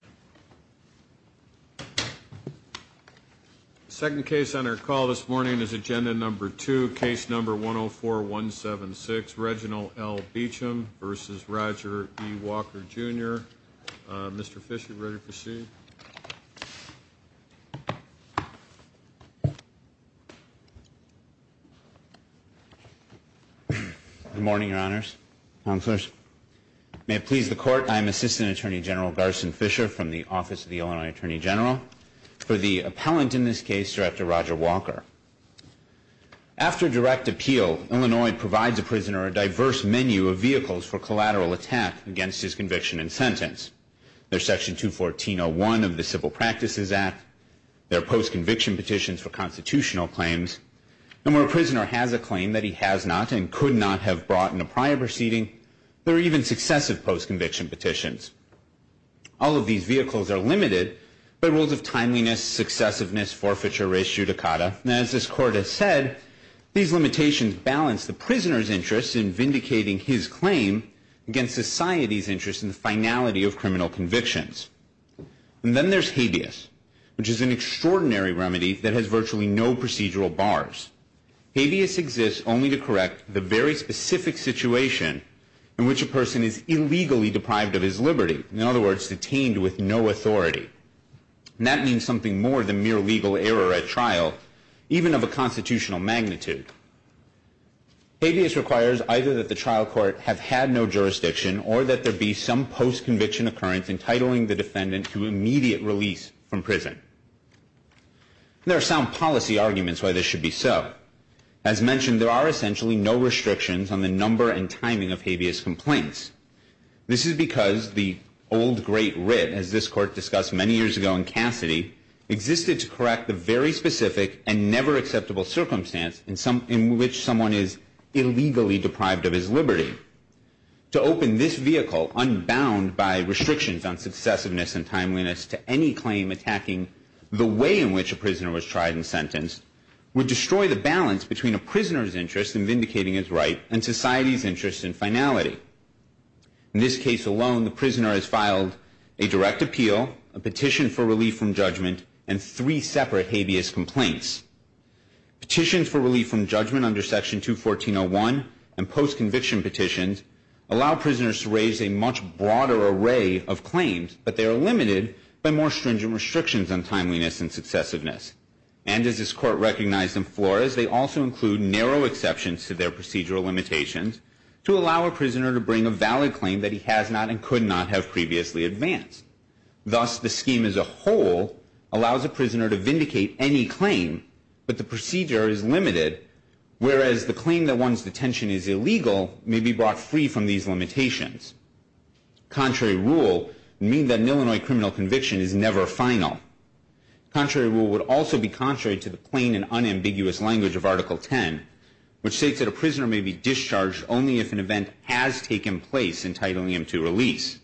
Jr. Mr. Fischer, ready to proceed? Good morning, Your Honors. May it please the Court, I am Assistant Attorney General Garson Fischer from the U.S. Department of Justice. Thank you, Mr. Fischer, from the Office of the Illinois Attorney General, for the appellant in this case, Director Roger Walker. After direct appeal, Illinois provides a prisoner a diverse menu of vehicles for collateral attack against his conviction and sentence. There's Section 214.01 of the Civil Practices Act. There are post-conviction petitions for constitutional claims. And where a prisoner has a claim that he has not and could not have brought in a prior proceeding, there are even successive post-conviction petitions. All of these vehicles are limited by rules of timeliness, successiveness, forfeiture, res judicata. And as this Court has said, these limitations balance the prisoner's interest in vindicating his claim against society's interest in the finality of criminal convictions. And then there's habeas, which is an extraordinary remedy that has virtually no procedural bars. Habeas exists only to correct the very specific situation in which a person is illegally deprived of his liberty. In other words, detained with no authority. And that means something more than mere legal error at trial, even of a constitutional magnitude. Habeas requires either that the trial court have had no jurisdiction or that there be some post-conviction occurrence entitling the defendant to immediate release from prison. There are some policy arguments why this should be so. As mentioned, there are essentially no restrictions on the number and timing of habeas complaints. This is because the old great writ, as this Court discussed many years ago in Cassidy, existed to correct the very specific and never acceptable circumstance in which someone is illegally deprived of his liberty. To open this vehicle, unbound by restrictions on successiveness and timeliness to any claim attacking the way in which a prisoner was tried and sentenced would destroy the balance between a prisoner's interest in vindicating his right and society's interest in finality. In this case alone, the prisoner has filed a direct appeal, a petition for relief from judgment, and three separate habeas complaints. Petitions for relief from judgment under Section 214.01 and post-conviction petitions allow prisoners to raise a much broader array of claims, but they are limited by more stringent restrictions on timeliness and successiveness. And as this Court recognized in Flores, they also include narrow exceptions to their procedural limitations to allow a prisoner to bring a valid claim that he has not and could not have previously advanced. Thus, the scheme as a whole allows a prisoner to vindicate any claim, but the procedure is limited, whereas the claim that one's detention is illegal may be brought free from these limitations. Contrary rule would mean that an Illinois criminal conviction is never final. Contrary rule would also be contrary to the plain and unambiguous language of Article 10, which states that a prisoner may be discharged only if an event has taken place entitling him to release.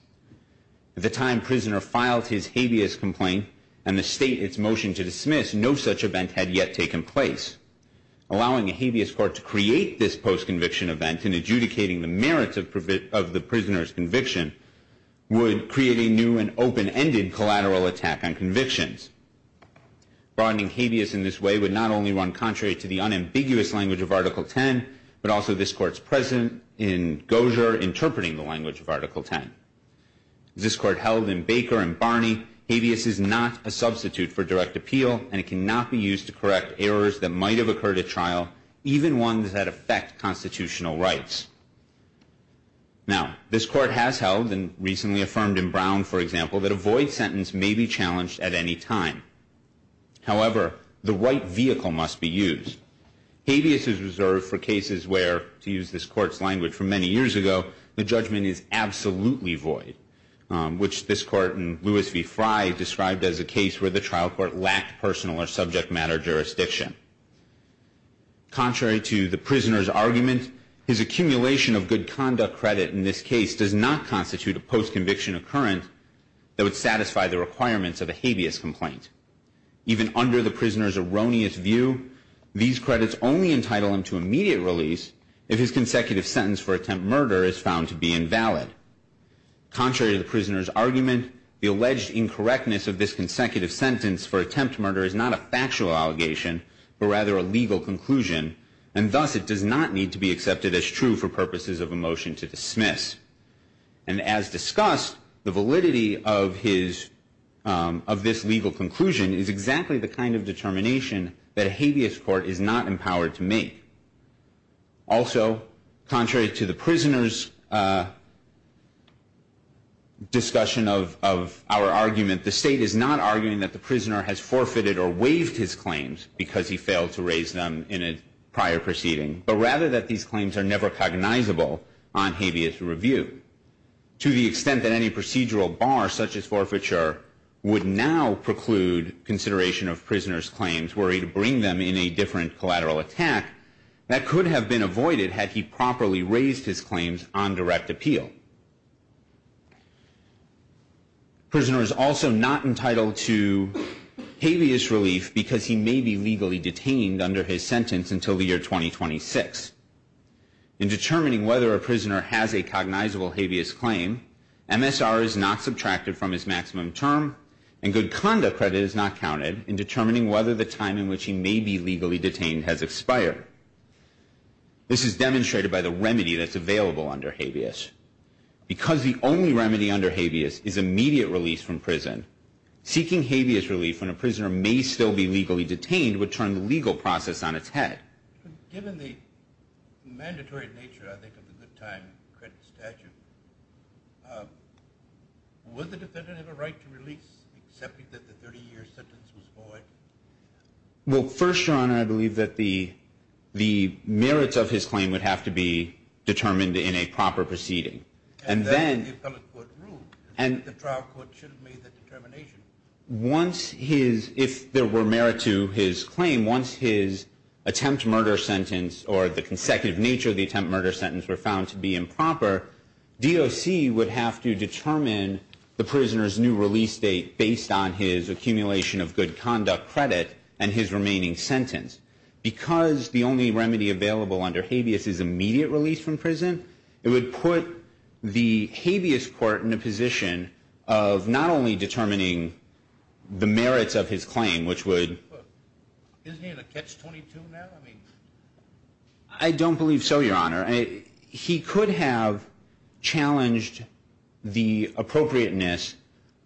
At the time a prisoner filed his habeas complaint and the state its motion to dismiss, no such event had yet taken place. Allowing a habeas court to create this post-conviction event and adjudicating the merits of the prisoner's conviction would create a new and open-ended collateral attack on convictions. Broadening habeas in this way would not only run contrary to the unambiguous language of Article 10, but also this Court's precedent in Gosher interpreting the language of Article 10. As this Court held in Baker and Barney, habeas is not a substitute for direct appeal and it cannot be used to correct errors that might have occurred at trial, even ones that affect constitutional rights. Now, this Court has held and recently affirmed in Brown, for example, that a void sentence may be challenged at any time. However, the right vehicle must be used. Habeas is reserved for cases where, to use this Court's language from many years ago, the judgment is absolutely void, which this Court in Lewis v. Fry described as a case where the trial court lacked personal or subject matter jurisdiction. Contrary to the prisoner's argument, his accumulation of good conduct credit in this case does not constitute a post-conviction occurrence that would satisfy the requirements of a habeas complaint. Even under the prisoner's erroneous view, these credits only entitle him to immediate release if his consecutive sentence for attempt murder is found to be invalid. Contrary to the prisoner's argument, the alleged incorrectness of this consecutive sentence for attempt murder is not a factual allegation, but rather a legal conclusion, and thus it does not need to be accepted as true for purposes of a motion to dismiss. And as discussed, the validity of this legal conclusion is exactly the kind of determination that a habeas court is not empowered to make. Also, contrary to the prisoner's discussion of our argument, the State is not arguing that the prisoner has forfeited or waived his claims because he failed to raise them in a prior proceeding, but rather that these claims are never cognizable on habeas review. To the extent that any procedural bar, such as forfeiture, would now preclude consideration of prisoners' claims, were he to bring them in a different collateral attack, that could have been avoided had he properly raised his claims on direct appeal. The prisoner is also not entitled to habeas relief because he may be legally detained under his sentence until the year 2026. In determining whether a prisoner has a cognizable habeas claim, MSR is not subtracted from his maximum term, and good conduct credit is not counted in determining whether the time in which he may be legally detained has expired. This is demonstrated by the remedy that's available under habeas. Because the only remedy under habeas is immediate release from prison, seeking habeas relief when a prisoner may still be legally detained would turn the legal process on its head. Given the mandatory nature, I think, of the good time credit statute, would the defendant have a right to release, excepting that the 30-year sentence was void? Well, first, Your Honor, I believe that the merits of his claim would have to be determined in a proper proceeding. And then the appellate court ruled that the trial court should have made that determination. Once his, if there were merit to his claim, once his attempt murder sentence or the consecutive nature of the attempt murder sentence were found to be improper, DOC would have to determine the prisoner's new release date based on his accumulation of good conduct credit and his remaining sentence. Because the only remedy available under habeas is immediate release from prison, it would put the habeas court in a position of not only determining the merits of his claim, which would... Isn't he in a catch-22 now? I don't believe so, Your Honor. He could have challenged the appropriateness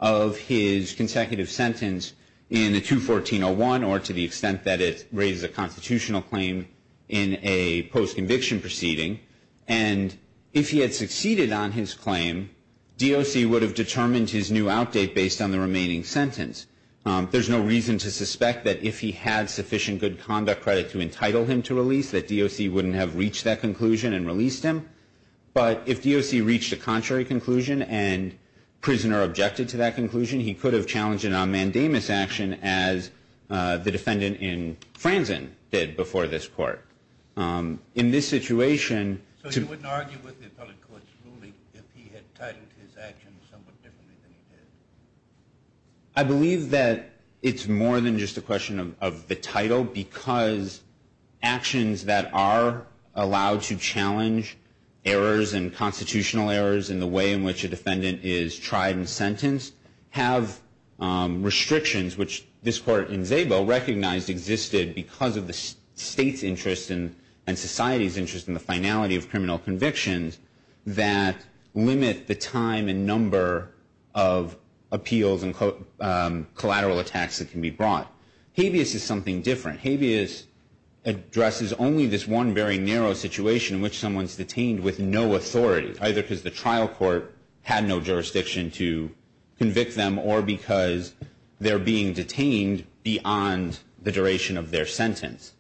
of his consecutive sentence in a 214-01 or to the extent that it raises a constitutional claim in a post-conviction proceeding. And if he had succeeded on his claim, DOC would have determined his new outdate based on the remaining sentence. There's no reason to suspect that if he had sufficient good conduct credit to entitle him to release that DOC wouldn't have reached that conclusion and released him. But if DOC reached a contrary conclusion and prisoner objected to that conclusion, he could have challenged an on-mandamus action as the defendant in Franzen did before this court. In this situation... So you wouldn't argue with the appellate court's ruling if he had titled his actions somewhat differently than he did? I believe that it's more than just a question of the title because actions that are allowed to challenge errors and constitutional errors in the way in which a defendant is tried and sentenced have restrictions, which this court in Szabo recognized existed because of the state's interest and society's interest in the finality of criminal convictions that limit the time and number of appeals and collateral attacks that can be brought. Habeas is something different. Habeas addresses only this one very narrow situation in which someone's detained with no authority, either because the trial court had no jurisdiction to convict them or because they're being detained beyond the duration of their sentence.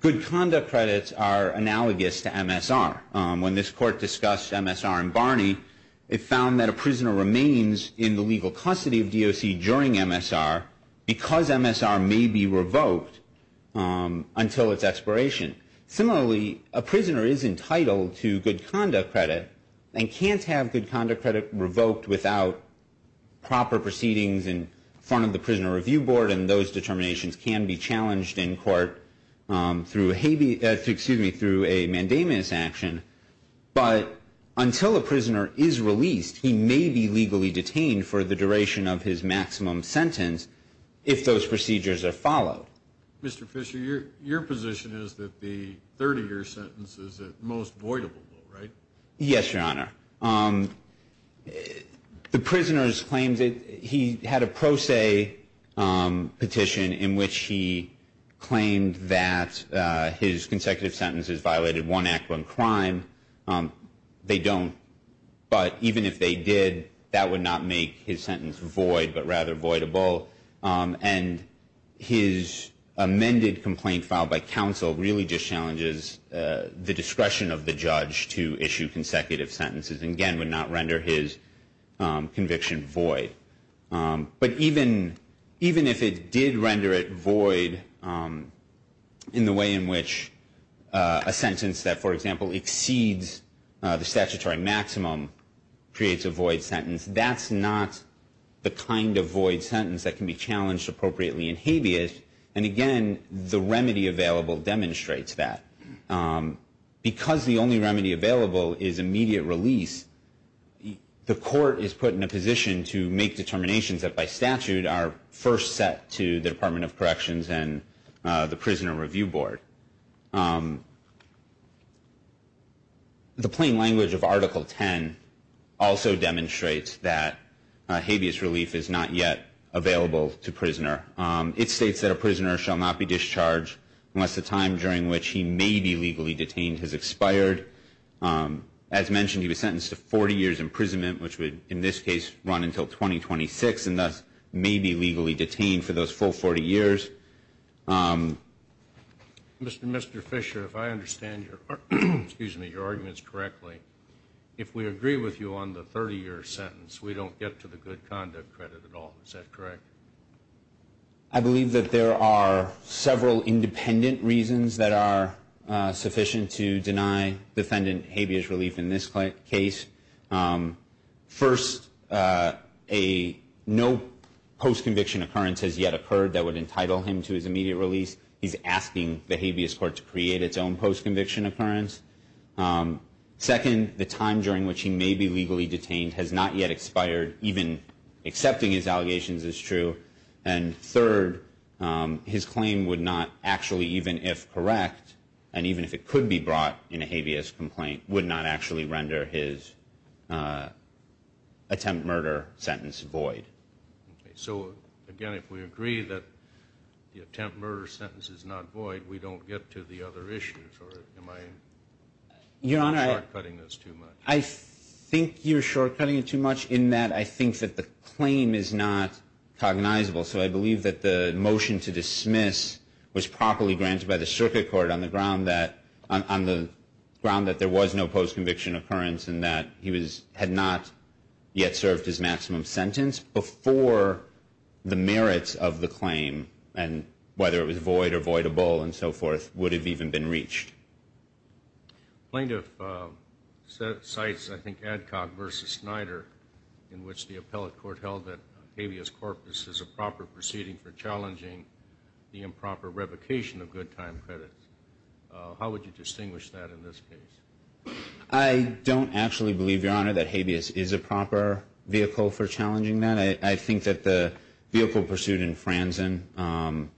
Good conduct credits are analogous to MSR. When this court discussed MSR in Barney, it found that a prisoner remains in the legal custody of DOC during MSR because MSR may be revoked until its expiration. Similarly, a prisoner is entitled to good conduct credit and can't have good conduct credit revoked without proper proceedings in front of the Prisoner Review Board, and those determinations can be challenged in court through a mandamus action. But until a prisoner is released, he may be legally detained for the duration of his maximum sentence if those procedures are followed. Mr. Fisher, your position is that the 30-year sentence is at most voidable, right? Yes, Your Honor. The prisoners claimed that he had a pro se petition in which he claimed that his consecutive sentences violated one act, one crime. They don't, but even if they did, that would not make his sentence void, but rather voidable. And his amended complaint filed by counsel really just challenges the discretion of the judge to issue consecutive sentences and, again, would not render his conviction void. But even if it did render it void in the way in which a sentence that, for example, exceeds the statutory maximum creates a void sentence, that's not the kind of void sentence that can be challenged appropriately in habeas. And, again, the remedy available demonstrates that. Because the only remedy available is immediate release, the court is put in a position to make determinations that, by statute, are first set to the Department of Corrections and the Prisoner Review Board. The plain language of Article 10 also demonstrates that habeas relief is not yet available to prisoner. It states that a prisoner shall not be discharged unless the time during which he may be legally detained has expired. As mentioned, he was sentenced to 40 years imprisonment, which would, in this case, run until 2026, and thus may be legally detained for those full 40 years. Mr. Fisher, if I understand your arguments correctly, if we agree with you on the 30-year sentence, we don't get to the good conduct credit at all. Is that correct? I believe that there are several independent reasons that are sufficient to deny defendant habeas relief in this case. First, no post-conviction occurrence has yet occurred that would entitle him to his immediate release. He's asking the habeas court to create its own post-conviction occurrence. Second, the time during which he may be legally detained has not yet expired. Even accepting his allegations is true. And third, his claim would not actually, even if correct, and even if it could be brought in a habeas complaint, would not actually render his attempt murder sentence void. So, again, if we agree that the attempt murder sentence is not void, we don't get to the other issues, or am I short-cutting this too much? Your Honor, I think you're short-cutting it too much in that I think that the claim is not cognizable. So I believe that the motion to dismiss was properly granted by the circuit court on the ground that there was no post-conviction occurrence and that he had not yet served his maximum sentence before the merits of the claim, and whether it was void or voidable and so forth would have even been reached. Plaintiff cites, I think, Adcock v. Snyder, in which the appellate court held that habeas corpus is a proper proceeding for challenging the improper revocation of good time credits. How would you distinguish that in this case? I don't actually believe, Your Honor, that habeas is a proper vehicle for challenging that. I think that the vehicle pursued in Franzen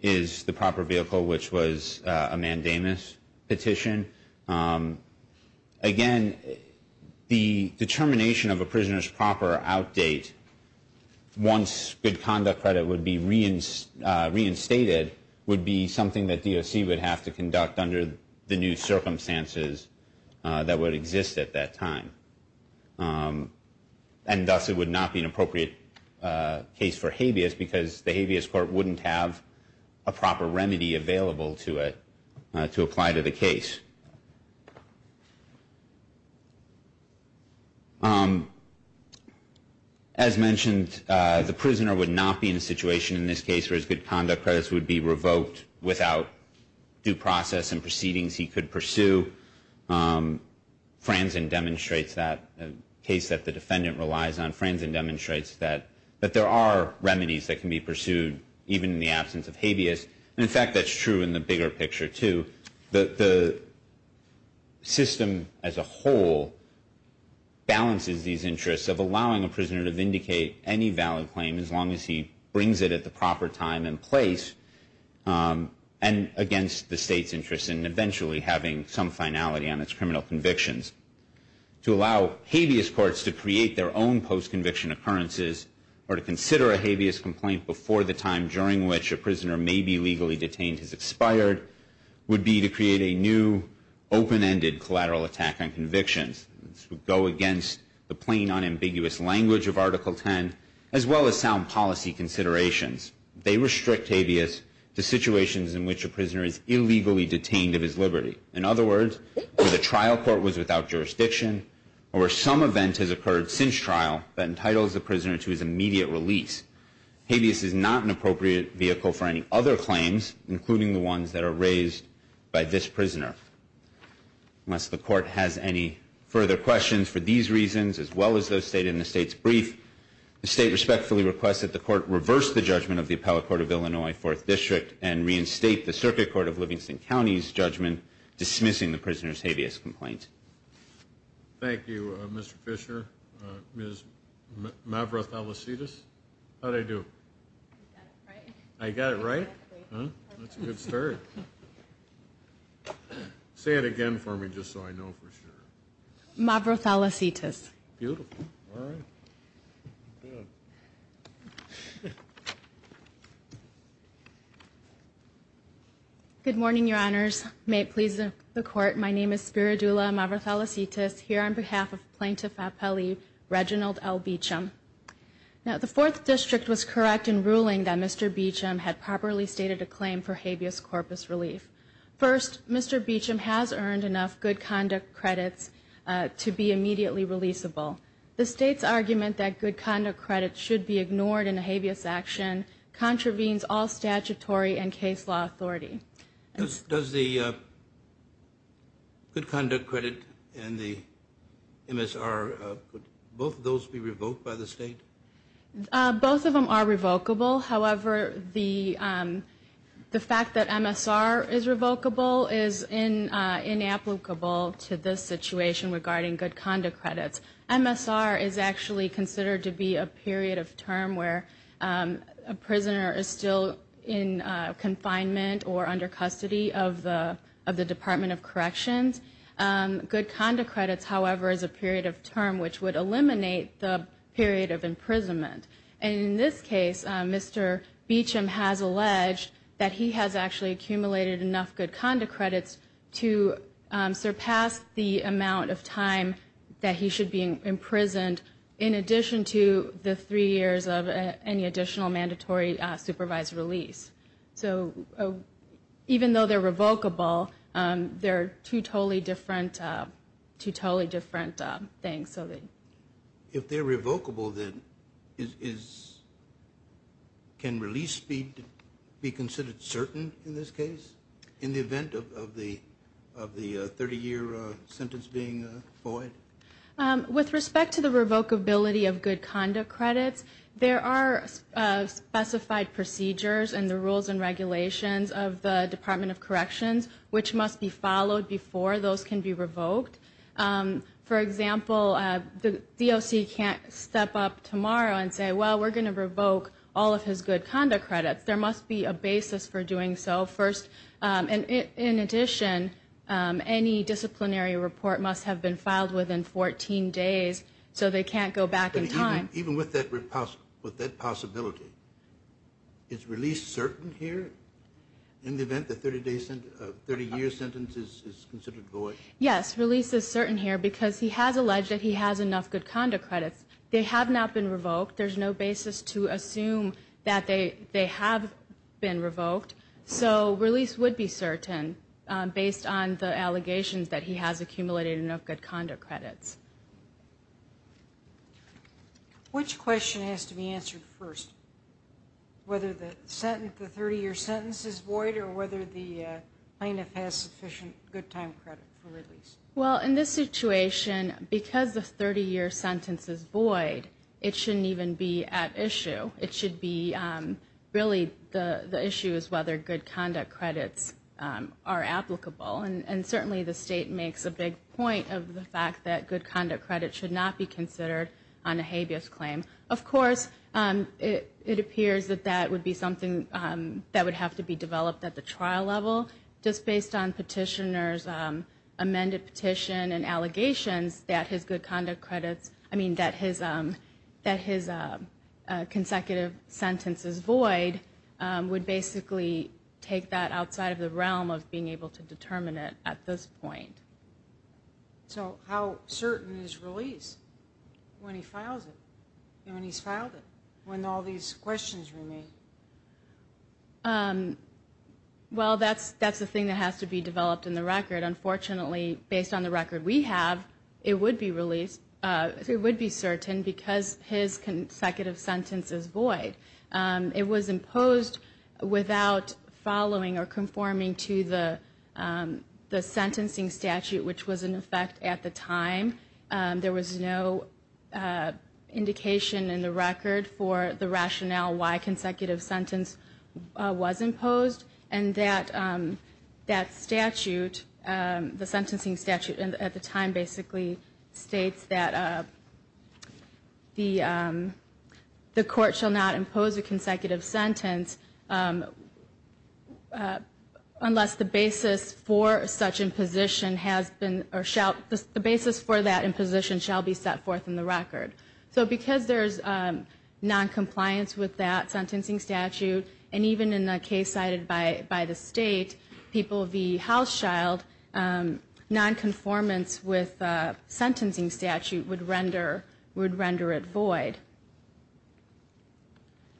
is the proper vehicle, which was a mandamus petition. Again, the determination of a prisoner's proper outdate once good conduct credit would be reinstated would be something that DOC would have to conduct under the new circumstances that would exist at that time. And thus it would not be an appropriate case for habeas because the habeas court wouldn't have a proper remedy available to it to apply to the case. As mentioned, the prisoner would not be in a situation in this case where his good conduct credits would be revoked without due process and proceedings he could pursue. Franzen demonstrates that, a case that the defendant relies on. Franzen demonstrates that there are remedies that can be pursued even in the absence of habeas. And, in fact, that's true in the bigger picture, too. The system as a whole balances these interests of allowing a prisoner to vindicate any valid claim as long as he brings it at the proper time and place and against the state's interest in eventually having some finality on its criminal convictions. To allow habeas courts to create their own post-conviction occurrences or to consider a habeas complaint before the time during which a prisoner may be legally detained has expired would be to create a new open-ended collateral attack on convictions. This would go against the plain, unambiguous language of Article 10 as well as sound policy considerations. They restrict habeas to situations in which a prisoner is illegally detained of his liberty. In other words, where the trial court was without jurisdiction or where some event has occurred since trial that entitles the prisoner to his immediate release. Habeas is not an appropriate vehicle for any other claims, including the ones that are raised by this prisoner. Unless the court has any further questions for these reasons as well as those stated in the state's brief, the state respectfully requests that the court reverse the judgment of the Appellate Court of Illinois 4th District and reinstate the Circuit Court of Livingston County's judgment dismissing the prisoner's habeas complaint. Thank you, Mr. Fisher. Ms. Mavroth-Alasitas, how did I do? I got it right? I got it right? That's a good start. Say it again for me just so I know for sure. Mavroth-Alasitas. Beautiful. All right. Good morning, Your Honors. May it please the Court, my name is Spiridula Mavroth-Alasitas here on behalf of Plaintiff Appellee Reginald L. Beecham. Now, the 4th District was correct in ruling that Mr. Beecham had properly stated a claim for habeas corpus relief. First, Mr. Beecham has earned enough good conduct credits to be immediately releasable. The state's argument that good conduct credits should be ignored in a habeas action contravenes all statutory and case law authority. Does the good conduct credit and the MSR, both of those be revoked by the state? Both of them are revocable. However, the fact that MSR is revocable is inapplicable to this situation regarding good conduct credits. MSR is actually considered to be a period of term where a prisoner is still in confinement or under custody of the Department of Corrections. Good conduct credits, however, is a period of term which would eliminate the period of imprisonment. And in this case, Mr. Beecham has alleged that he has actually accumulated enough good conduct credits to surpass the amount of time that he should be imprisoned in addition to the three years of any additional mandatory supervised release. So even though they're revocable, they're two totally different things. If they're revocable, then can release be considered certain in this case in the event of the 30-year sentence being void? With respect to the revocability of good conduct credits, there are specified procedures and the rules and regulations of the Department of Corrections which must be followed before those can be revoked. For example, the DOC can't step up tomorrow and say, well, we're going to revoke all of his good conduct credits. There must be a basis for doing so first. And in addition, any disciplinary report must have been filed within 14 days so they can't go back in time. Even with that possibility, is release certain here in the event the 30-year sentence is considered void? Yes, release is certain here because he has alleged that he has enough good conduct credits. They have not been revoked. There's no basis to assume that they have been revoked. So release would be certain based on the allegations that he has accumulated enough good conduct credits. Which question has to be answered first? Whether the 30-year sentence is void or whether the plaintiff has sufficient good time credit for release? Well, in this situation, because the 30-year sentence is void, it shouldn't even be at issue. It should be really the issue is whether good conduct credits are applicable. And certainly the state makes a big point of the fact that good conduct credits should not be considered on a habeas claim. Of course, it appears that that would be something that would have to be developed at the trial level. Just based on petitioner's amended petition and allegations that his good conduct credits, I mean, that his consecutive sentence is void, would basically take that outside of the realm of being able to determine it at this point. So how certain is release when he files it, when he's filed it, when all these questions remain? Well, that's the thing that has to be developed in the record. Unfortunately, based on the record we have, it would be released, it would be certain because his consecutive sentence is void. It was imposed without following or conforming to the sentencing statute, which was in effect at the time. There was no indication in the record for the rationale why consecutive sentence was imposed. And that statute, the sentencing statute at the time basically states that the court shall not impose a sentence or impose a consecutive sentence unless the basis for such imposition has been, or shall, the basis for that imposition shall be set forth in the record. So because there's noncompliance with that sentencing statute, and even in a case cited by the state, people v. Hauschild, nonconformance with sentencing statute would render it void.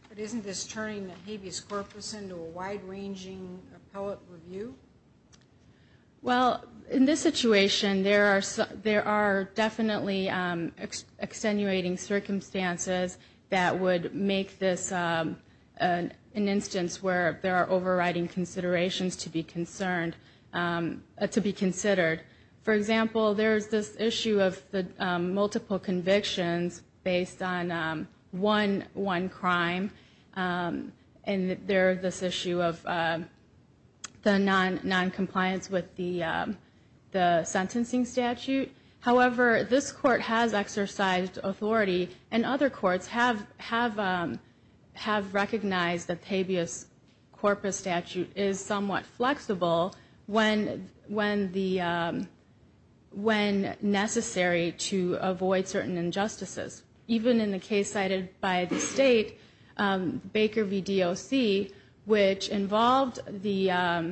But isn't this turning the habeas corpus into a wide-ranging appellate review? Well, in this situation there are definitely extenuating circumstances that would make this an instance where there are overriding considerations to be considered. For example, there's this issue of the multiple convictions based on one crime. And there's this issue of the noncompliance with the sentencing statute. However, this court has exercised authority, and other courts have recognized that the habeas corpus statute is somewhat flexible when necessary to avoid certain injustices. Even in the case cited by the state, Baker v. DOC, which involved the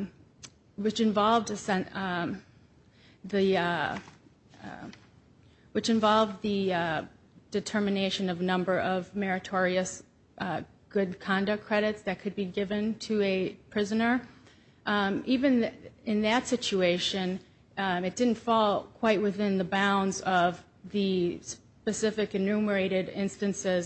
determination of a number of meritorious good conduct credits that could be given to a prisoner. Even in that situation, it didn't fall quite within the bounds of the specific enumeration of the sentence. There were numerous enumerated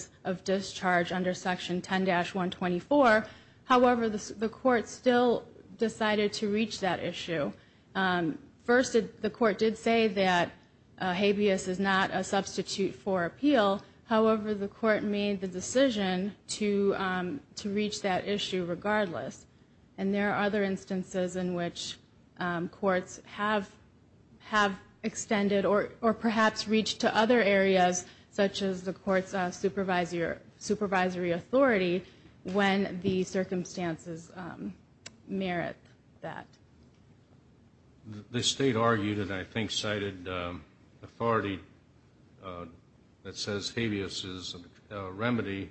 instances of discharge under Section 10-124. However, the court still decided to reach that issue. First, the court did say that habeas is not a substitute for appeal. However, the court made the decision to reach that issue regardless. And there are other instances in which courts have extended, or perhaps reached to other areas, such as the statute of limitations. And this is the court's supervisory authority when the circumstances merit that. The state argued, and I think cited, authority that says habeas is a remedy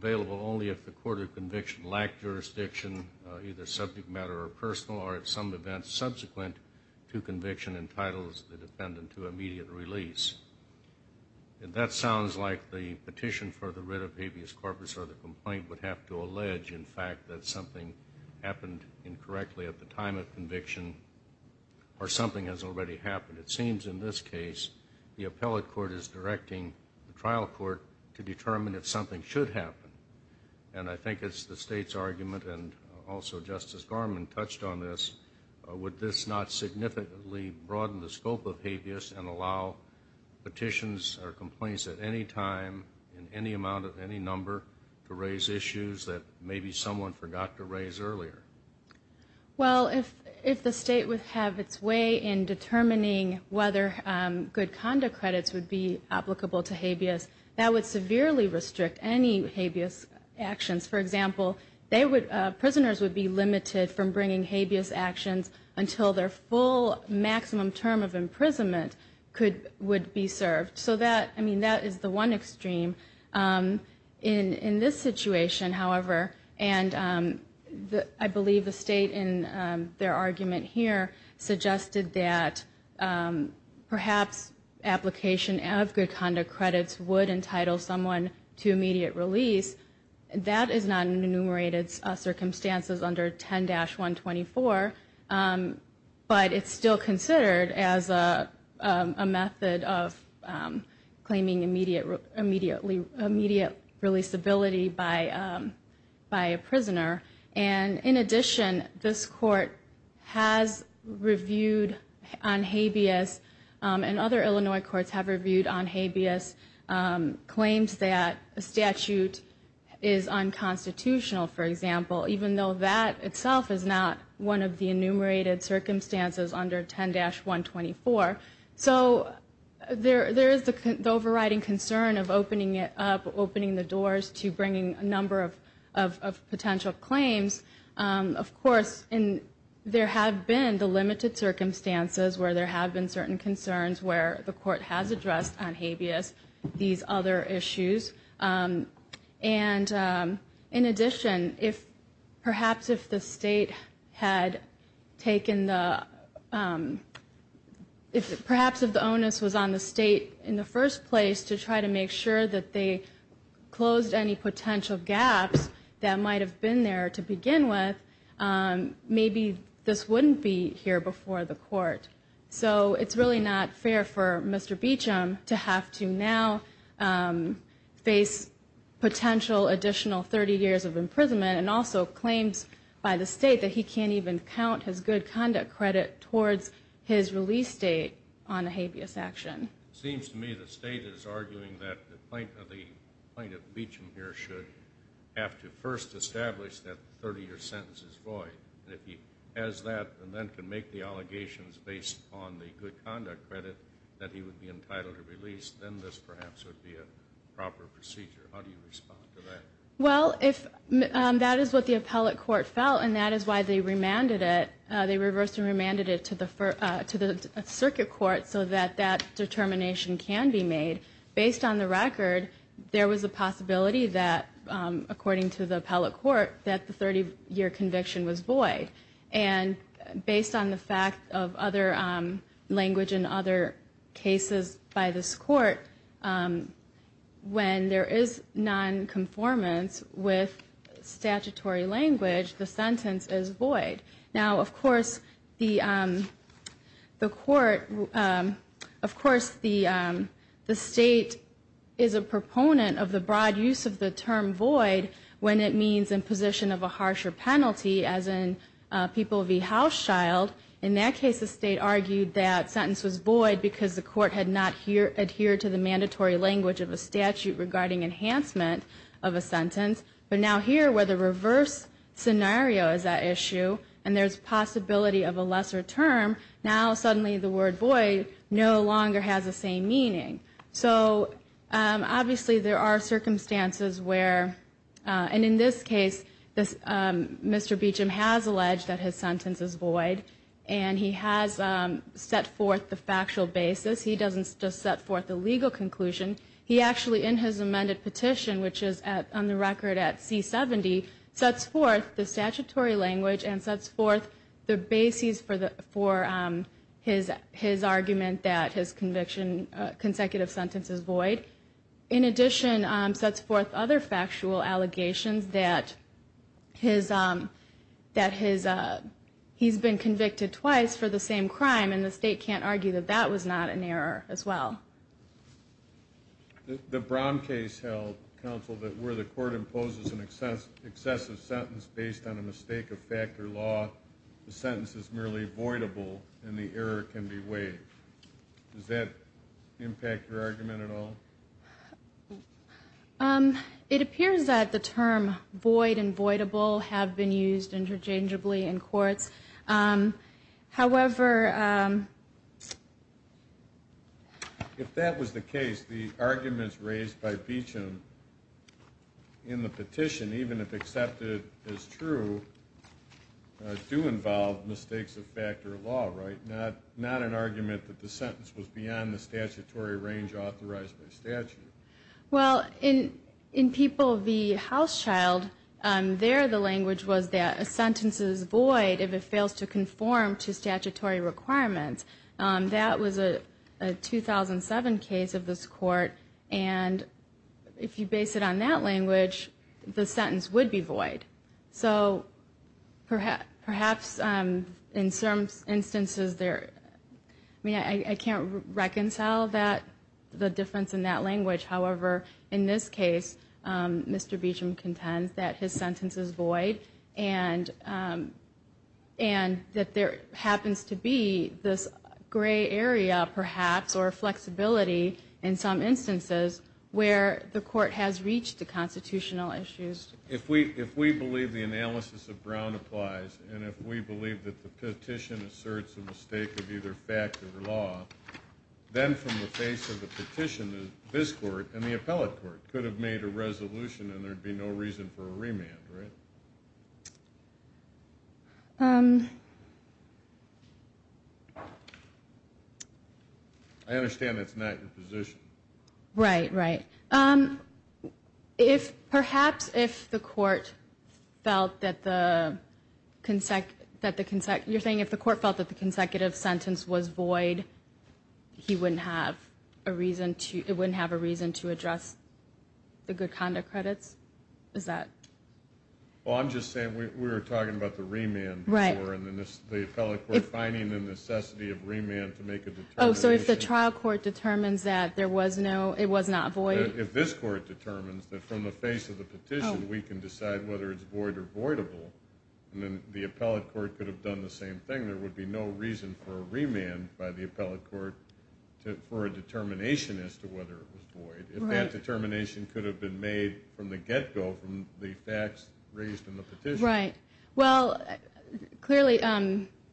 available only if the court of conviction lacked jurisdiction, either subject matter or personal, or at some event subsequent to conviction entitles the defendant to immediate release. That sounds like the petition for the writ of habeas corpus or the complaint would have to allege, in fact, that something happened incorrectly at the time of conviction, or something has already happened. It seems, in this case, the appellate court is directing the trial court to determine if something should happen. And I think it's the state's argument, and also Justice Garmon touched on this, would this not significantly broaden the scope of habeas and allow petitions or complaints to be made? I mean, would it allow petitions or complaints at any time, in any amount, at any number, to raise issues that maybe someone forgot to raise earlier? Well, if the state would have its way in determining whether good conduct credits would be applicable to habeas, that would severely restrict any habeas actions. For example, prisoners would be limited from bringing habeas actions until their full maximum term of imprisonment would be served. So that, I mean, that is the one extreme. In this situation, however, and I believe the state in their argument here suggested that perhaps application of good conduct credits would entitle someone to immediate release. That is not enumerated circumstances under 10-124. But it's still considered as a method of claiming immediate releaseability by a prisoner. And in addition, this court has reviewed on habeas, and other Illinois courts have reviewed on habeas claims that a statute is unconstitutional, for example, even though that itself is not one of the enumerated circumstances under 10-124. So there is the overriding concern of opening it up, opening the doors to bringing a number of potential claims. Of course, there have been the limited circumstances where there have been certain concerns where the court has addressed on habeas these other issues. And in addition, perhaps if the state had taken the, perhaps if the onus was on the state in the first place to try to make sure that they closed any potential gaps that might have been there to begin with, maybe this wouldn't be here before the court. So it's really not fair for Mr. Beacham to have to now open the doors to bringing a number of potential claims. And to face potential additional 30 years of imprisonment, and also claims by the state that he can't even count his good conduct credit towards his release date on a habeas action. It seems to me the state is arguing that the plaintiff, the plaintiff Beacham here, should have to first establish that the 30-year sentence is void. And if he has that, and then can make the allegations based on the good conduct credit that he would be entitled to release, then this perhaps would be a proper procedure. How do you respond to that? Well, if that is what the appellate court felt, and that is why they remanded it. They reversed and remanded it to the circuit court so that that determination can be made. Based on the record, there was a possibility that, according to the appellate court, that the 30-year conviction was void. And based on the fact of other language and other cases by this court, when there is nonconformance with statutory language, the sentence is void. Now, of course, the court, of course, the state is a proponent of the broad use of the term void when it means in position of a harsher penalty, as in people v. Hauschild. In that case, the state argued that sentence was void because the court had not adhered to the mandatory language of a statute regarding enhancement of a sentence. But now here, where the reverse scenario is at issue, and there's possibility of a lesser term, now suddenly the word void no longer has the same meaning. So, obviously, there are circumstances where, and in this case, Mr. Beacham has alleged that his sentence is void. And he has set forth the factual basis. He doesn't just set forth the legal conclusion. He actually, in his amended petition, which is on the record at C-70, sets forth the statutory language and sets forth the basis for his argument that his conviction, consecutive sentence is void. In addition, sets forth other factual allegations that his, that his, he's been convicted twice for the same crime, and the state can't argue that that was not an error as well. The Brown case held, counsel, that where the court imposes an excessive sentence based on a mistake of fact or law, the sentence is merely voidable and the error can be waived. Does that impact your argument at all? It appears that the term void and voidable have been used interchangeably in courts. However... If that was the case, the arguments raised by Beacham in the petition, even if accepted as true, do involve mistakes of fact or law, right? Not an argument that the sentence was beyond the statutory range authorized by statute. Well, in People v. Housechild, there the language was that a sentence is void if it fails to conform to statutory requirements. That was a 2007 case of this court, and if you base it on that language, the sentence would be void. So perhaps in some instances there, I mean, I can't reconcile that, the difference in that language. However, in this case, Mr. Beacham contends that his sentence is void, and that there happens to be this gray area, perhaps, or flexibility in some instances where the court has reached the constitutional issues. If we believe the analysis of Brown applies, and if we believe that the petition asserts a mistake of either fact or law, then from the face of the petition, this court and the appellate court could have made a resolution and there'd be no reason for a remand, right? I understand that's not your position. Right, right. Perhaps if the court felt that the consecutive sentence was void, he wouldn't have a reason to address the good conduct credits? Well, I'm just saying, we were talking about the remand before, and the appellate court finding the necessity of remand to make a determination. Oh, so if the trial court determines that it was not void? If this court determines that from the face of the petition we can decide whether it's void or voidable, then the appellate court could have done the same thing. There would be no reason for a remand by the appellate court for a determination as to whether it was void. If that determination could have been made from the get-go, from the facts raised in the petition. Right. Well, clearly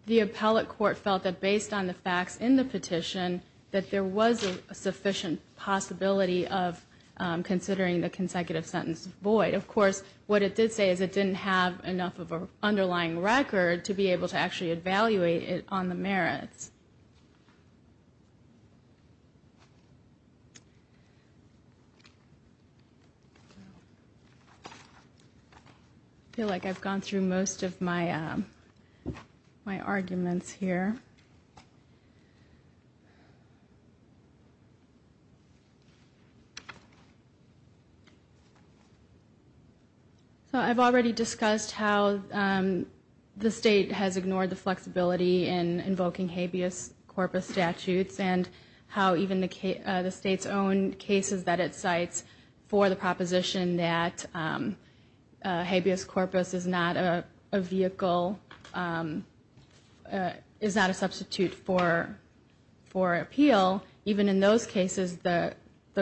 the appellate court felt that based on the facts in the petition, that there was a sufficient possibility of considering the consecutive sentence void. Of course, what it did say is it didn't have enough of an underlying record to be able to actually evaluate it on the merits. I feel like I've gone through most of my arguments here. I've already discussed how the state has ignored the flexibility in invoking habeas corpus statutes and how even the state's own cases that it cites for the proposition that habeas corpus is not a vehicle, is not a substitute for appeal, even in those cases the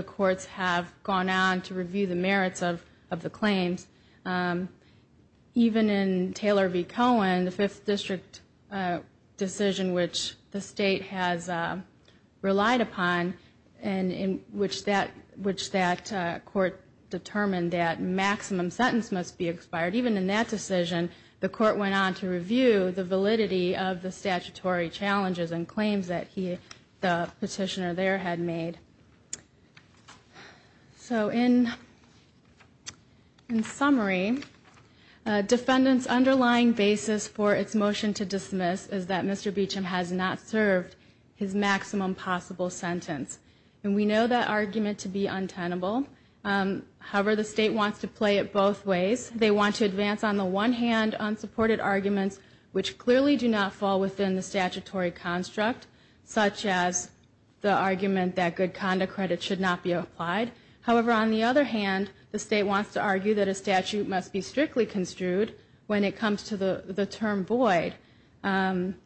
courts have gone on to review the merits of the claim. Even in Taylor v. Cohen, the Fifth District decision which the state has relied upon in which that court determined that maximum sentence must be expired, even in that decision the court went on to review the validity of the statutory challenges and claims that the petitioner there had made. So in summary, defendant's underlying basis for its motion to dismiss is that Mr. Beauchamp has not served his maximum possible sentence. And we know that argument to be untenable. However, the state wants to play it both ways. They want to advance on the one hand unsupported arguments which clearly do not fall within the statutory construct, such as the argument that good conduct credit should not be applied. However, on the other hand, the state wants to argue that a statute must be strictly construed when it comes to the term void. And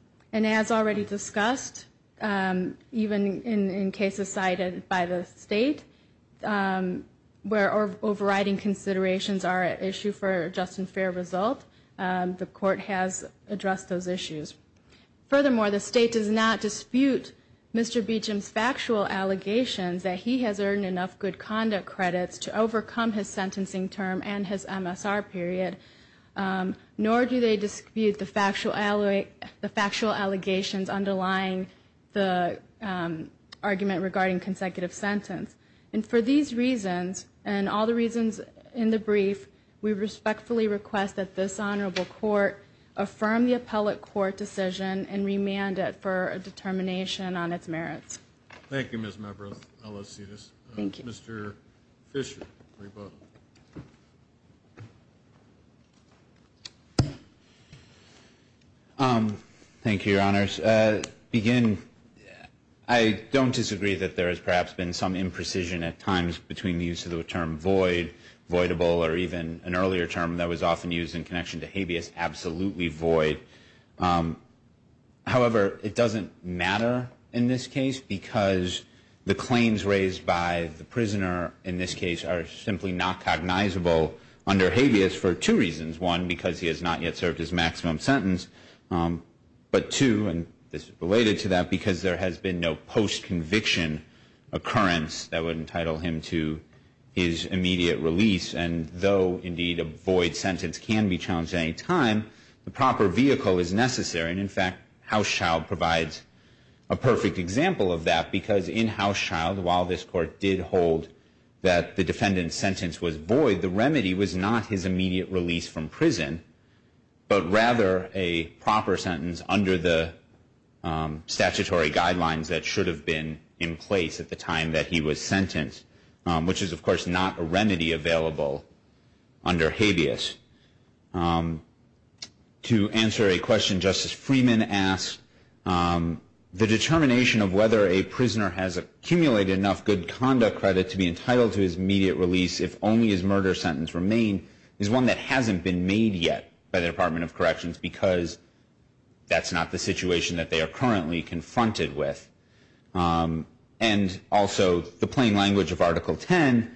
as already discussed, even in cases cited by the state, where overriding considerations are an issue for just and fair result, the court has addressed those issues. Furthermore, the state does not dispute Mr. Beauchamp's factual allegations that he has earned enough good conduct credits to overcome his sentencing term and his MSR period, nor do they dispute the factual allegations underlying the argument regarding consecutive sentence. And for these reasons, and all the reasons in the brief, we respectfully request that this honorable court affirm the appellate court decision and remand it for a determination on its merits. Thank you, Ms. Mebroth. Thank you, Your Honors. I don't disagree that there has perhaps been some imprecision at times between the use of the term void, voidable, or even an earlier term that was often used in connection to habeas, absolutely void. However, it doesn't matter in this case, because the claims raised by the prisoner in this case are simply not cognizable under habeas for two reasons. One, because he has not yet served his maximum sentence. But two, and this is related to that, because there has been no post-conviction occurrence that would entitle him to his immediate release. And though, indeed, a void sentence can be challenged at any time, the proper vehicle is necessary. And in fact, Housechild provides a perfect example of that, because in Housechild, while this court did hold that the defendant's sentence was void, but rather a proper sentence under the statutory guidelines that should have been in place at the time that he was sentenced, which is, of course, not a remedy available under habeas. To answer a question Justice Freeman asked, the determination of whether a prisoner has accumulated enough good conduct credit to be entitled to his immediate release if only his murder sentence remained is one that hasn't been made yet by the Department of Corrections, because that's not the situation that they are currently confronted with. And also, the plain language of Article 10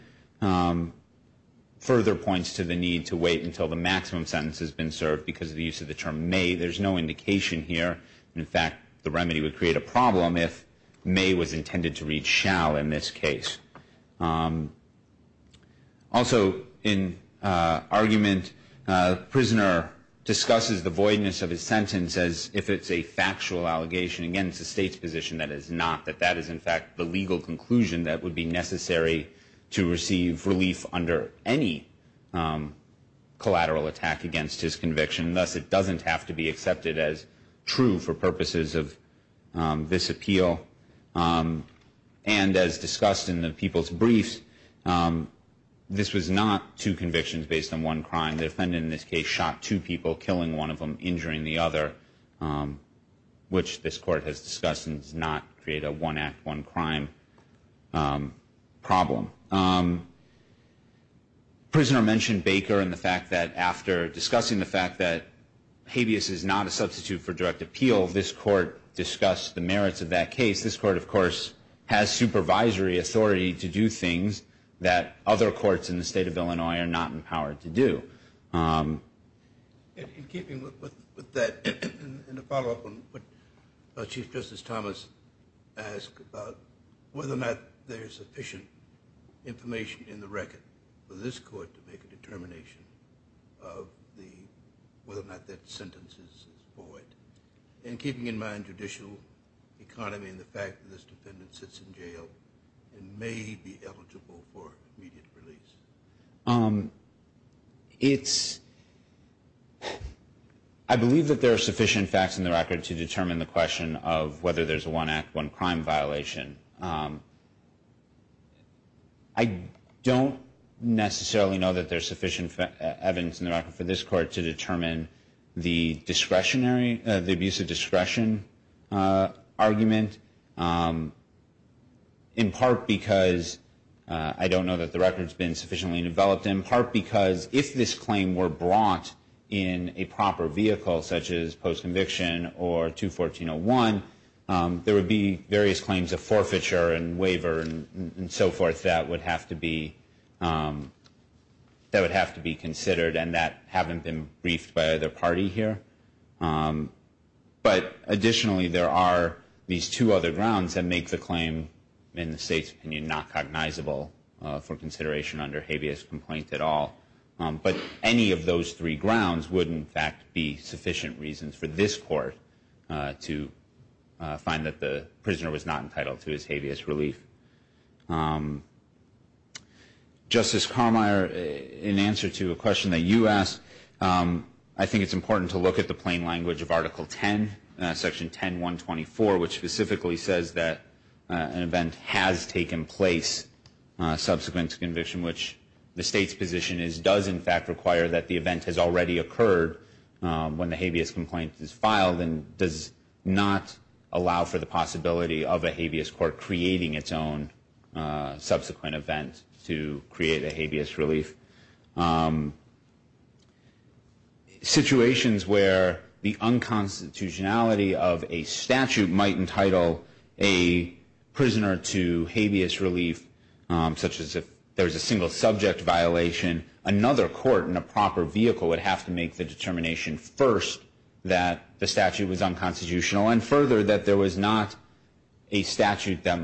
further points to the need to wait until the maximum sentence has been served because of the use of the term may. Also, in argument, the prisoner discusses the voidness of his sentence as if it's a factual allegation against the state's position that it is not, that that is, in fact, the legal conclusion that would be necessary to receive relief under any collateral attack against his conviction. Thus, it doesn't have to be accepted as true for purposes of this appeal. And as discussed in the people's briefs, this was not two convictions based on one crime. The defendant in this case shot two people, killing one of them, injuring the other, which this court has discussed and does not create a one act, one crime problem. The prisoner mentioned Baker and the fact that after discussing the fact that in this case, this court, of course, has supervisory authority to do things that other courts in the state of Illinois are not empowered to do. In keeping with that, and to follow up on what Chief Justice Thomas asked about whether or not there is sufficient information in the record for this court to make a determination of whether or not that sentence is void. And keeping in mind judicial economy and the fact that this defendant sits in jail and may be eligible for immediate release. It's, I believe that there are sufficient facts in the record to determine the question of whether there's a one act, one crime violation. I don't necessarily know that there's sufficient evidence in the record for this court to determine the discretionary, the abuse of discretion argument. In part because I don't know that the record's been sufficiently developed. In part because if this claim were brought in a proper vehicle such as post conviction or 214-01, there would be various claims of forfeiture and waiver and so forth that would have to be, that would have to be considered and that haven't been briefed by either party here. But additionally there are these two other grounds that make the claim in the state's opinion not cognizable for consideration under habeas complaint at all. But any of those three grounds would in fact be sufficient reasons for this court to find that the prisoner was not entitled to his habeas relief. Justice Carmeier, in answer to a question that you asked, I think it's important to look at the plain language of Article 10, Section 10-124 which specifically says that an event has taken place subsequent to conviction which the state's position is does in fact require that the event has already occurred when the habeas complaint is filed and does not allow for the possibility of a habeas court creating its own subsequent event to create a habeas relief. Situations where the unconstitutionality of a statute might entitle a prisoner to habeas relief such as if there's a single subject violation, another court in a proper vehicle would have to make the determination first that the statute was unconstitutional and further that there was not a statute that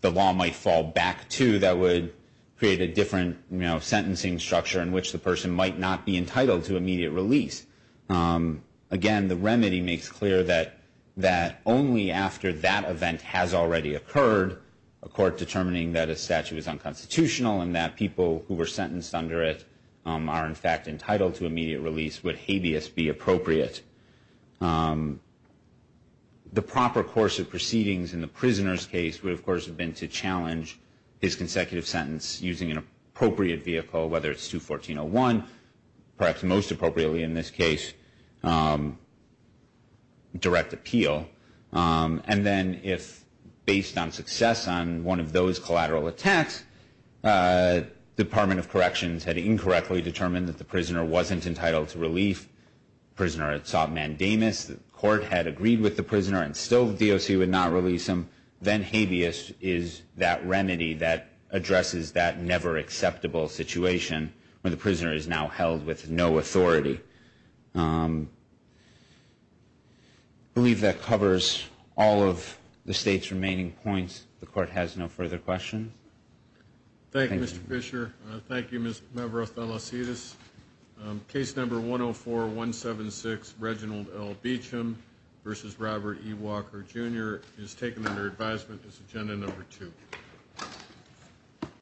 the law might fall back to that would create a different sentencing structure in which the person might not be entitled to immediate release. Again, the remedy makes clear that only after that event has already occurred, a court determining that a statute is unconstitutional and that people who were sentenced under it are in fact entitled to immediate release would habeas be appropriate. The proper course of proceedings in the prisoner's case would, of course, have been to challenge his consecutive sentence using an appropriate vehicle, whether it's 214-01, perhaps most appropriately in this case, direct appeal. And then if, based on success on one of those collateral attacks, Department of Corrections had incorrectly determined that the prisoner wasn't entitled to relief, the prisoner had sought mandamus, the court had agreed with the prisoner and still the DOC would not release him, then habeas is that remedy that addresses that never acceptable situation where the prisoner is now held with no authority. I believe that covers all of the state's remaining points. The court has no further questions. Thank you, Mr. Fischer. Thank you, Mr. Othellosidis. Case number 104-176, Reginald L. Beecham v. Robert E. Walker, Jr. is taken under advisement as agenda number two.